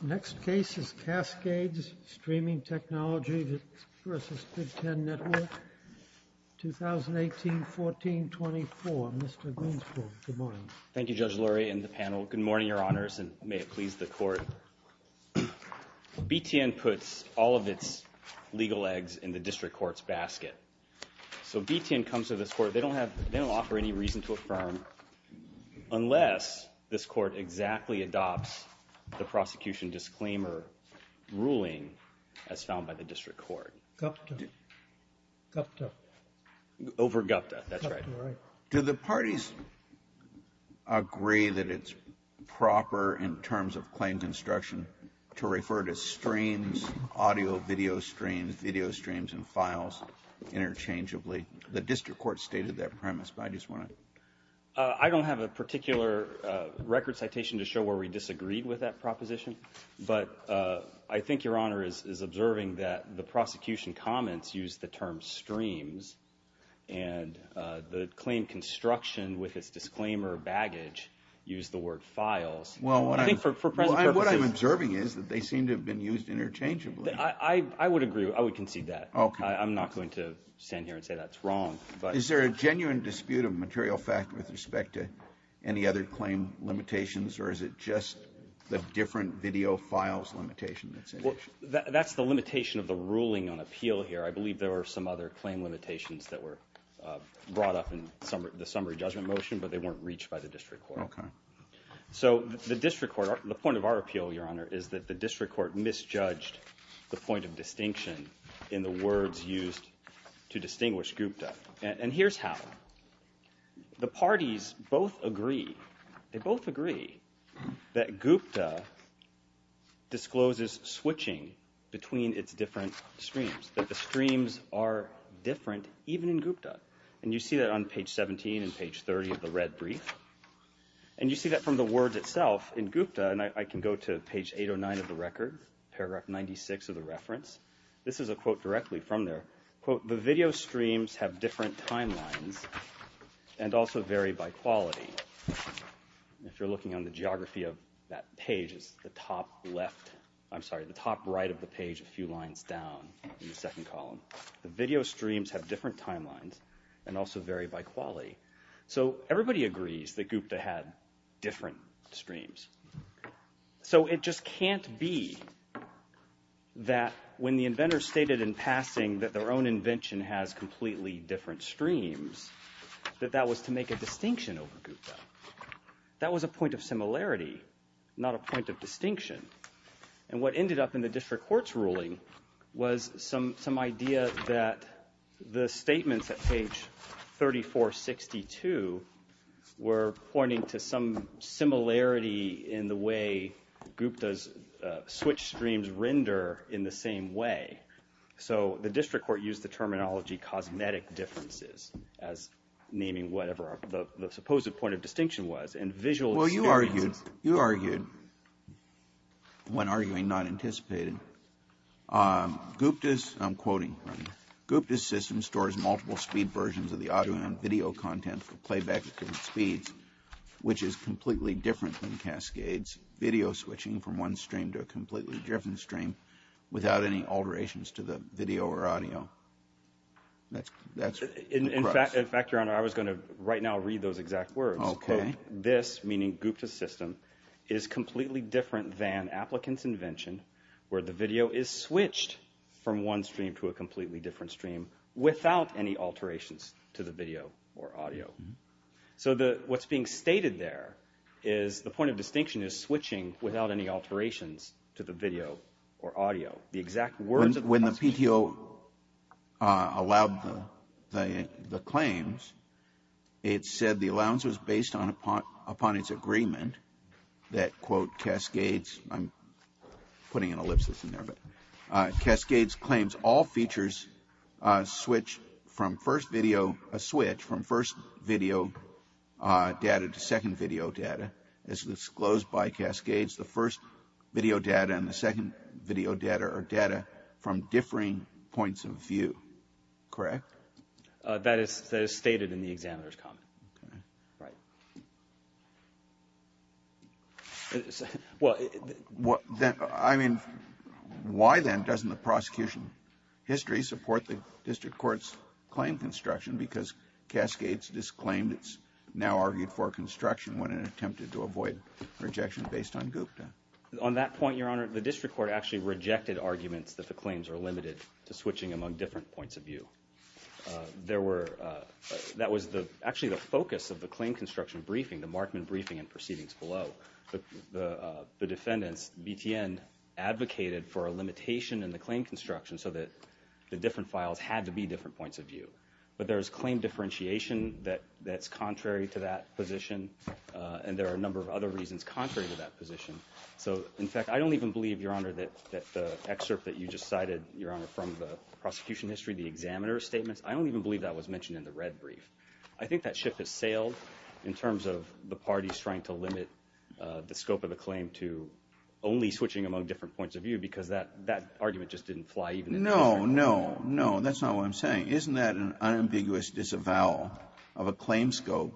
Next case is Cascades Streaming Technology v. Big Ten Network, 2018-14-24. Mr. Greenspool, good morning. Thank you, Judge Lurie and the panel. Good morning, Your Honors, and may it please the Court. B.T.N. puts all of its legal eggs in the District Court's basket. So B.T.N. comes to this Court, they don't have, they don't offer any reason to affirm unless this Court exactly adopts the prosecution disclaimer ruling as found by the District Court. Gupta. Gupta. Over Gupta, that's right. Gupta, right. Do the parties agree that it's proper in terms of claim construction to refer to streams, audio, video streams, video streams and files interchangeably? The District Court stated that premise, but I just want to... I don't have a particular record citation to show where we disagreed with that proposition, but I think Your Honor is observing that the prosecution comments use the term streams and the claim construction with its disclaimer baggage use the word files. Well, what I'm... I think for present purposes... What I'm observing is that they seem to have been used interchangeably. I would agree. I would concede that. Okay. I'm not going to stand here and say that's wrong, but... Is there a genuine dispute of material fact with respect to any other claim limitations or is it just the different video files limitation that's in it? That's the limitation of the ruling on appeal here. I believe there were some other claim limitations that were brought up in the summary judgment motion, but they weren't reached by the District Court. Okay. So the District Court... The point of our appeal, Your Honor, is that the District Court misjudged the point of distinction in the words used to distinguish Gupta. And here's how. The parties both agree, they both agree that Gupta discloses switching between its different streams, that the streams are different even in Gupta. And you see that on page 17 and page 30 of the red brief. And you see that from the words itself in Gupta. And I can go to page 809 of the record, paragraph 96 of the reference. This is a quote directly from there. Quote, the video streams have different timelines and also vary by quality. If you're looking on the geography of that page, it's the top left... In the second column. The video streams have different timelines and also vary by quality. So everybody agrees that Gupta had different streams. So it just can't be that when the inventor stated in passing that their own invention has completely different streams, that that was to make a distinction over Gupta. That was a point of similarity, not a point of distinction. And what ended up in the district court's ruling was some idea that the statements at page 3462 were pointing to some similarity in the way Gupta's switch streams render in the same way. So the district court used the terminology cosmetic differences as naming whatever the supposed point of distinction was. Well, you argued, you argued, when arguing not anticipated, Gupta's, I'm quoting, Gupta's system stores multiple speed versions of the audio and video content for playback at different speeds, which is completely different than Cascade's video switching from one stream to a completely different stream without any alterations to the video or audio. That's... In fact, your honor, I was going to right now read those exact words. Okay. This, meaning Gupta's system, is completely different than Applicant's invention, where the video is switched from one stream to a completely different stream without any alterations to the video or audio. So what's being stated there is the point of distinction is switching without any alterations to the video or audio. The exact words... When the PTO allowed the claims, it said the allowance was based upon its agreement that, quote, Cascade's, I'm putting an ellipsis in there, but Cascade's claims all features switch from first video, a switch from first video data to second video data as disclosed by Cascade's. The first video data and the second video data are data from differing points of view. Correct? That is stated in the examiner's comment. Okay. Right. Well... I mean, why then doesn't the prosecution history support the district court's claim construction because Cascade's disclaimed its now argued for construction when it attempted to avoid a rejection based on Gupta? On that point, Your Honor, the district court actually rejected arguments that the claims are limited to switching among different points of view. There were... That was actually the focus of the claim construction briefing, the Markman briefing and proceedings below. The defendants, BTN, advocated for a limitation in the claim construction so that the different files had to be different points of view. But there's claim differentiation that's contrary to that position, and there are a number of other reasons contrary to that position. So in fact, I don't even believe, Your Honor, that the excerpt that you just cited, Your Honor, from the prosecution history, the examiner's statements, I don't even believe that was mentioned in the red brief. I think that ship has sailed in terms of the parties trying to limit the scope of the claim to only switching among different points of view because that argument just didn't fly even in the district court. No, no, no. That's not what I'm saying. Isn't that an unambiguous disavowal of a claim scope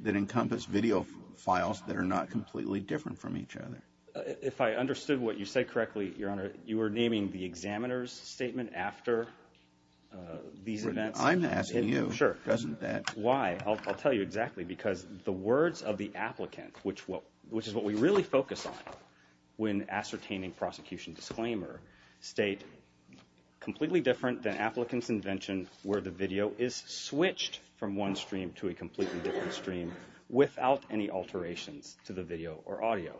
that encompassed video files that are not completely different from each other? If I understood what you said correctly, Your Honor, you were naming the examiner's statement after these events. I'm asking you, doesn't that? Sure. Why? I'll tell you exactly. Because the words of the applicant, which is what we really focus on when ascertaining prosecution disclaimer, state, completely different than applicant's invention where the video is switched from one stream to a completely different stream without any alterations to the video or audio.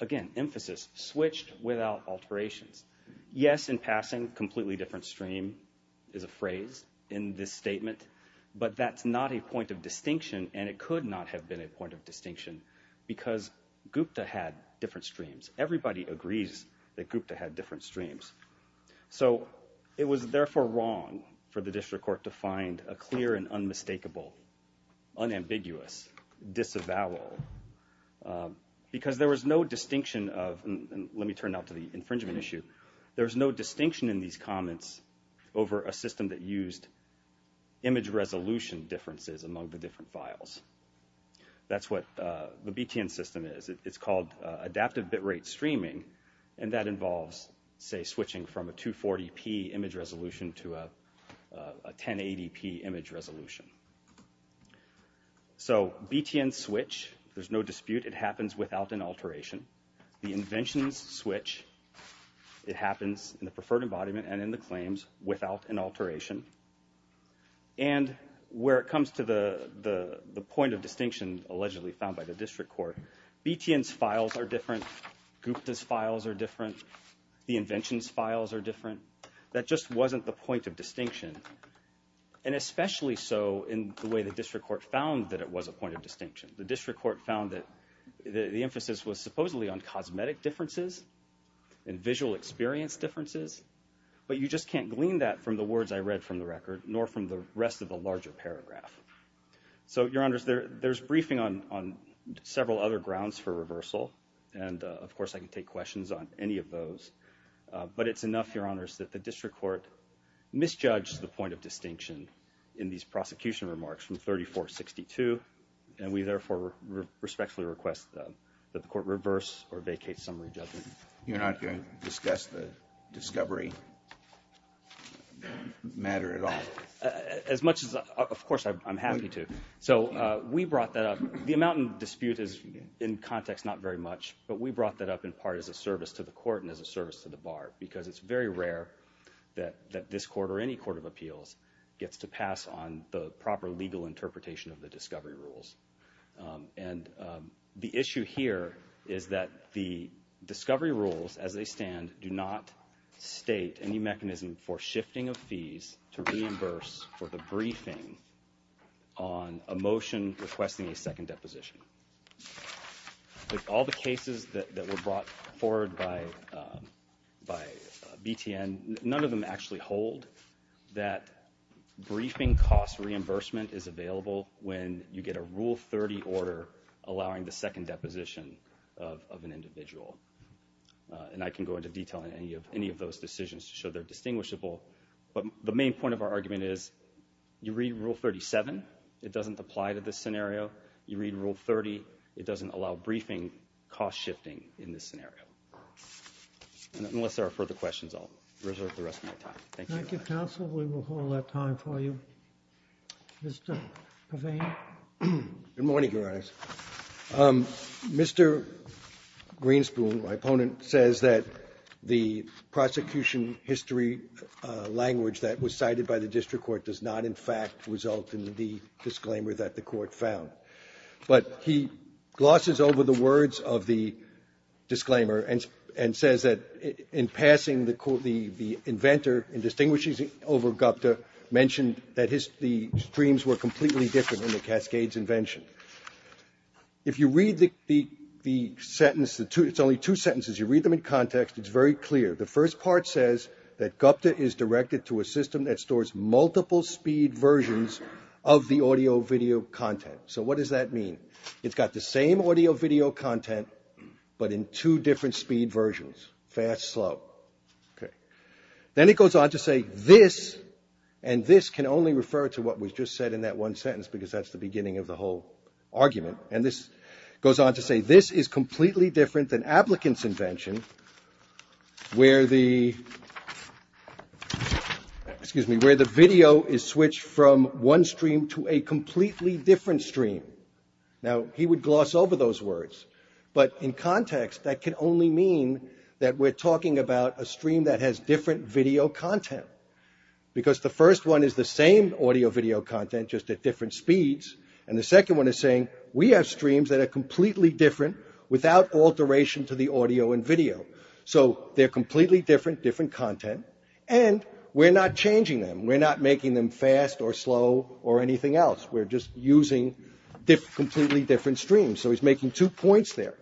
Again, emphasis, switched without alterations. Yes, in passing, completely different stream is a phrase in this statement, but that's not a point of distinction and it could not have been a point of distinction because Gupta had different streams. Everybody agrees that Gupta had different streams. So it was therefore wrong for the district court to find a clear and unmistakable, unambiguous disavowal because there was no distinction of, and let me turn now to the infringement issue, there was no distinction in these comments over a system that used image resolution differences among the different files. That's what the BTN system is. It's called adaptive bit rate streaming and that involves, say, switching from a 240p image resolution to a 1080p image resolution. So BTN switch, there's no dispute, it happens without an alteration. The inventions switch, it happens in the preferred embodiment and in the claims without an alteration. And where it comes to the point of distinction allegedly found by the district court, BTN's files are different, Gupta's files are different, the invention's files are different. That just wasn't the point of distinction and especially so in the way the district court found that it was a point of distinction. The district court found that the emphasis was supposedly on cosmetic differences and visual experience differences, but you just can't glean that from the words I read from the record nor from the rest of the larger paragraph. So your honors, there's briefing on several other grounds for reversal and of course I can take questions on any of those, but it's enough, your honors, that the district court misjudged the point of distinction in these prosecution remarks from 3462 and we therefore respectfully request that the court reverse or vacate summary judgment. You're not going to discuss the discovery matter at all? As much as, of course I'm happy to. So we brought that up, the amount in dispute is in context not very much, but we brought that up in part as a service to the court and as a service to the bar because it's very rare that this court or any court of appeals gets to pass on the proper legal interpretation of the discovery rules. And the issue here is that the discovery rules as they stand do not state any mechanism for shifting of fees to reimburse for the briefing on a motion requesting a second deposition. With all the cases that were brought forward by BTN, none of them actually hold that briefing cost reimbursement is available when you get a Rule 30 order allowing the second deposition of an individual. And I can go into detail on any of those decisions to show they're distinguishable, but the main point of our argument is you read Rule 37, it doesn't apply to this scenario. You read Rule 30, it doesn't allow briefing cost shifting in this scenario. Unless there are further questions, I'll reserve the rest of my time. Thank you. Thank you, counsel. We will hold our time for you. Mr. Pavane. Good morning, Your Honor. Mr. Greenspoon, my opponent, says that the prosecution history language that was cited by the district court does not in fact result in the disclaimer that the court found. But he glosses over the words of the disclaimer and says that in passing the inventor in distinguishing over GUPTA mentioned that the streams were completely different in the Cascades invention. If you read the sentence, it's only two sentences, you read them in context, it's very clear. The first part says that GUPTA is directed to a system that stores multiple speed versions of the audio video content. So what does that mean? It's got the same audio video content, but in two different speed versions, fast, slow. Then it goes on to say this, and this can only refer to what was just said in that one sentence because that's the beginning of the whole argument. And this goes on to say this is completely different than Ablicant's invention, where the video is switched from one stream to a completely different stream. Now, he would gloss over those words, but in context, that can only mean that we're talking about a stream that has different video content. Because the first one is the same audio video content, just at different speeds, and the second one is saying we have streams that are completely different without alteration to the audio and video. So they're completely different, different content, and we're not changing them. We're not making them fast or slow or anything else. We're just using completely different streams. So he's making two points there.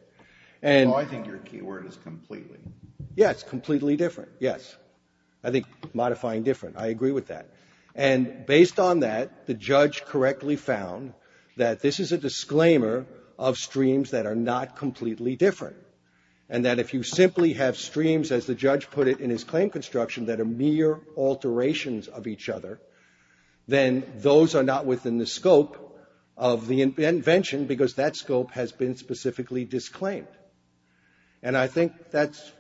And I think your key word is completely. Yes, completely different. Yes. I think modifying different. I agree with that. And based on that, the judge correctly found that this is a disclaimer of streams that are not completely different, and that if you simply have streams, as the judge put it in his claim construction, that are mere alterations of each other, then those are not within the scope of the invention, because that scope has been specifically disclaimed. And I think that's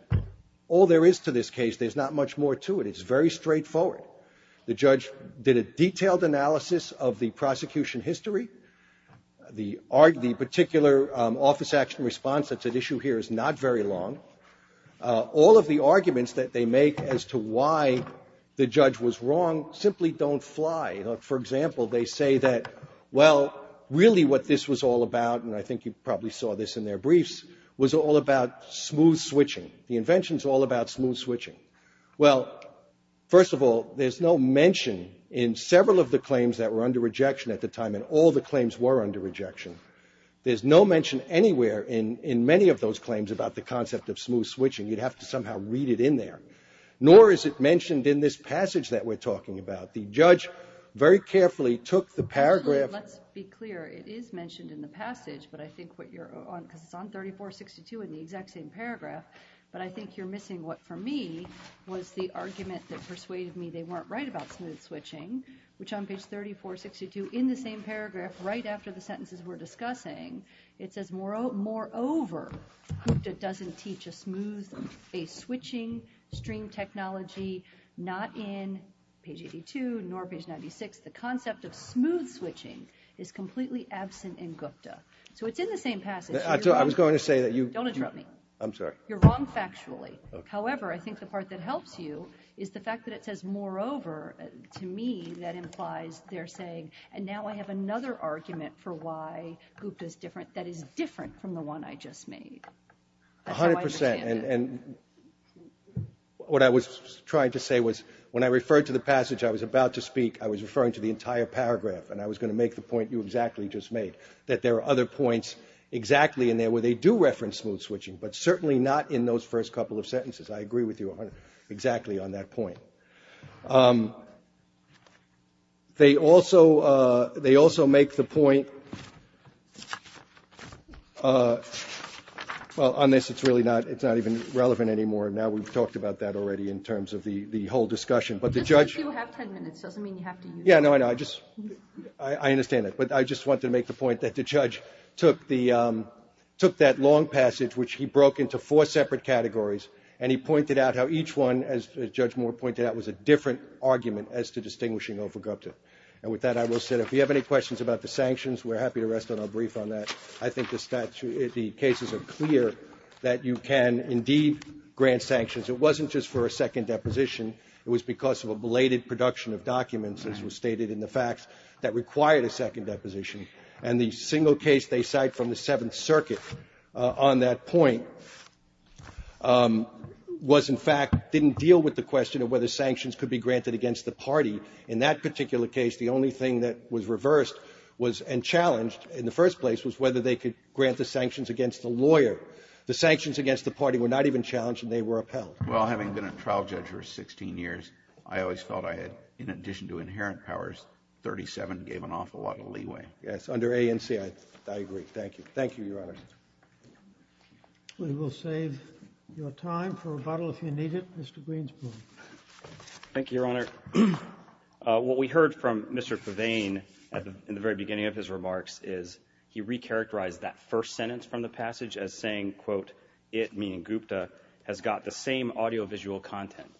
all there is to this case. There's not much more to it. It's very straightforward. The judge did a detailed analysis of the prosecution history. The particular office action response that's at issue here is not very long. All of the arguments that they make as to why the judge was wrong simply don't fly. For example, they say that, well, really what this was all about, and I think you probably saw this in their briefs, was all about smooth switching. The invention's all about smooth switching. Well, first of all, there's no mention in several of the claims that were under rejection at the time, and all the claims were under rejection, there's no mention anywhere in many of those claims about the concept of smooth switching. You'd have to somehow read it in there. Nor is it mentioned in this passage that we're talking about. The judge very carefully took the paragraph- Absolutely. Let's be clear. It is mentioned in the passage, but I think what you're on, because it's on 3462 in the exact same paragraph, but I think you're missing what, for me, was the argument that persuaded me they weren't right about smooth switching, which on page 3462, in the same paragraph, right after the sentences we're discussing, it says, moreover, Hukda doesn't teach a smooth switching stream technology, not in page 82, nor page 96. The concept of smooth switching is completely absent in Hukda. So it's in the same passage- I was going to say that you- Don't interrupt me. I'm sorry. You're wrong factually. However, I think the part that helps you is the fact that it says, moreover, to me, that implies they're saying, and now I have another argument for why Hukda's different, that is different from the one I just made. I don't understand. A hundred percent. And what I was trying to say was, when I referred to the passage I was about to speak, I was referring to the entire paragraph, and I was going to make the point you exactly just made, that there are other points exactly in there where they do reference smooth switching, but certainly not in those first couple of sentences. I agree with you exactly on that point. So, they also make the point- well, on this, it's really not even relevant anymore. Now we've talked about that already in terms of the whole discussion. But the judge- It doesn't mean you have ten minutes. It doesn't mean you have to use- Yeah, no, I know. I just- I understand that. But I just wanted to make the point that the judge took that long passage, which he broke into four separate categories, and he pointed out how each one, as Judge Moore pointed out, was a different argument as to distinguishing over Gupta. And with that, I will say, if you have any questions about the sanctions, we're happy to rest on our brief on that. I think the statute- the cases are clear that you can indeed grant sanctions. It wasn't just for a second deposition. It was because of a belated production of documents, as was stated in the facts, that required a second deposition. And the single case they cite from the Seventh Circuit on that point was, in fact, didn't deal with the question of whether sanctions could be granted against the party. In that particular case, the only thing that was reversed was- and challenged in the first place- was whether they could grant the sanctions against the lawyer. The sanctions against the party were not even challenged, and they were upheld. Well, having been a trial judge for 16 years, I always felt I had, in addition to inherent powers, 37, gave an awful lot of leeway. Yes, under ANC, I agree. Thank you. Thank you, Your Honor. We will save your time for rebuttal, if you need it. Mr. Greenspun. Thank you, Your Honor. What we heard from Mr. Pavane in the very beginning of his remarks is he recharacterized that first sentence from the passage as saying, quote, it, meaning Gupta, has got the same audiovisual content.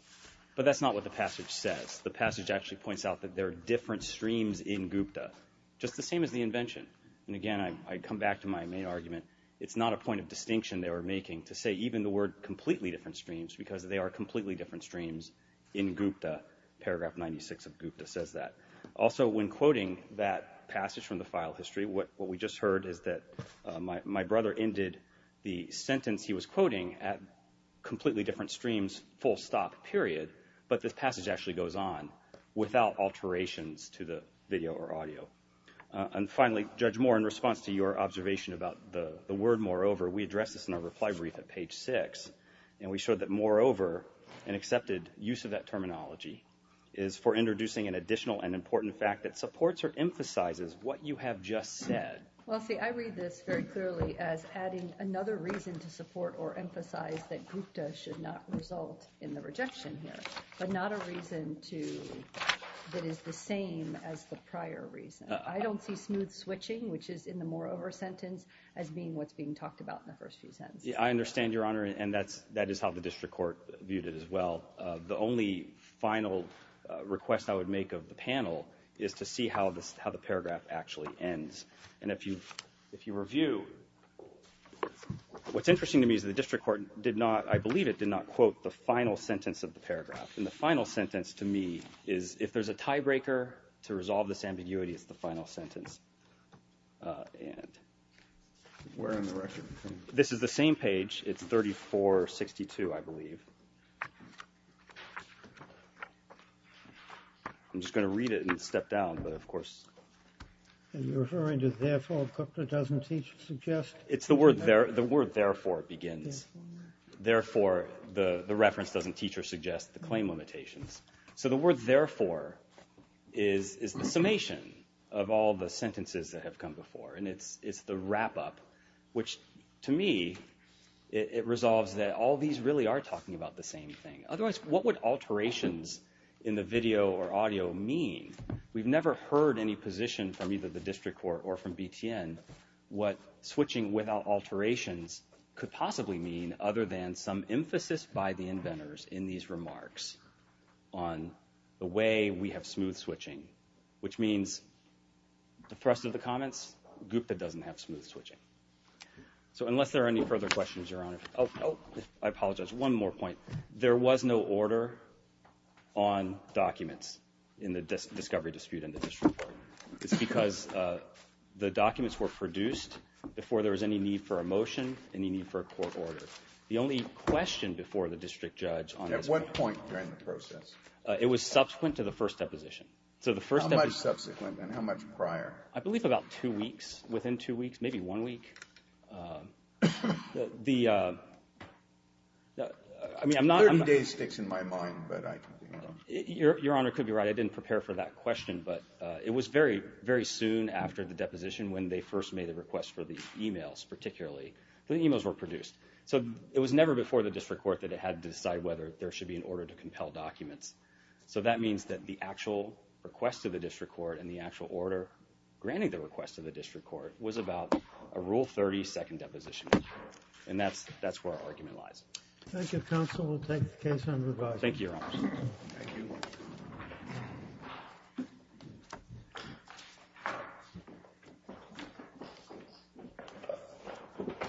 But that's not what the passage says. The passage actually points out that there are different streams in Gupta, just the same as the invention. And again, I come back to my main argument. It's not a point of distinction they were making to say even the word completely different streams, because they are completely different streams in Gupta. Paragraph 96 of Gupta says that. Also, when quoting that passage from the file history, what we just heard is that my brother ended the sentence he was quoting at completely different streams, full stop, period. But this passage actually goes on without alterations to the video or audio. And finally, Judge Moore, in response to your observation about the word moreover, we addressed this in our reply brief at page six. And we showed that moreover, an accepted use of that terminology is for introducing an additional and important fact that supports or emphasizes what you have just said. Well, see, I read this very clearly as adding another reason to support or emphasize that but not a reason that is the same as the prior reason. I don't see smooth switching, which is in the moreover sentence, as being what's being talked about in the first few sentences. I understand, Your Honor, and that is how the district court viewed it as well. The only final request I would make of the panel is to see how the paragraph actually ends. And if you review, what's interesting to me is the district court did not, I believe it did not quote the final sentence of the paragraph. And the final sentence to me is, if there's a tiebreaker to resolve this ambiguity, it's the final sentence. And... Where in the record? This is the same page. It's 3462, I believe. I'm just going to read it and step down, but, of course... Are you referring to therefore, because it doesn't suggest... It's the word therefore begins. Therefore, the reference doesn't teach or suggest the claim limitations. So the word therefore is the summation of all the sentences that have come before. And it's the wrap-up, which to me, it resolves that all these really are talking about the same thing. Otherwise, what would alterations in the video or audio mean? We've never heard any position from either the district court or from BTN what switching without alterations could possibly mean other than some emphasis by the inventors in these remarks on the way we have smooth switching. Which means, the thrust of the comments, GUPTA doesn't have smooth switching. So unless there are any further questions, Your Honor... Oh, I apologize. One more point. There was no order on documents in the discovery dispute in the district court. It's because the documents were produced before there was any need for a motion, any need for a court order. The only question before the district judge on this... At what point during the process? It was subsequent to the first deposition. So the first... How much subsequent and how much prior? I believe about two weeks, within two weeks, maybe one week. The... 30 days sticks in my mind, but I... Your Honor could be right. I didn't prepare for that question, but it was very, very soon after the deposition when they first made the request for the emails, particularly, the emails were produced. So it was never before the district court that it had to decide whether there should be an order to compel documents. So that means that the actual request of the district court and the actual order granting the request of the district court was about a Rule 30 second deposition. And that's where our argument lies. Thank you, Counsel. We'll take the case on review. Thank you, Your Honor. Thank you. Thank you.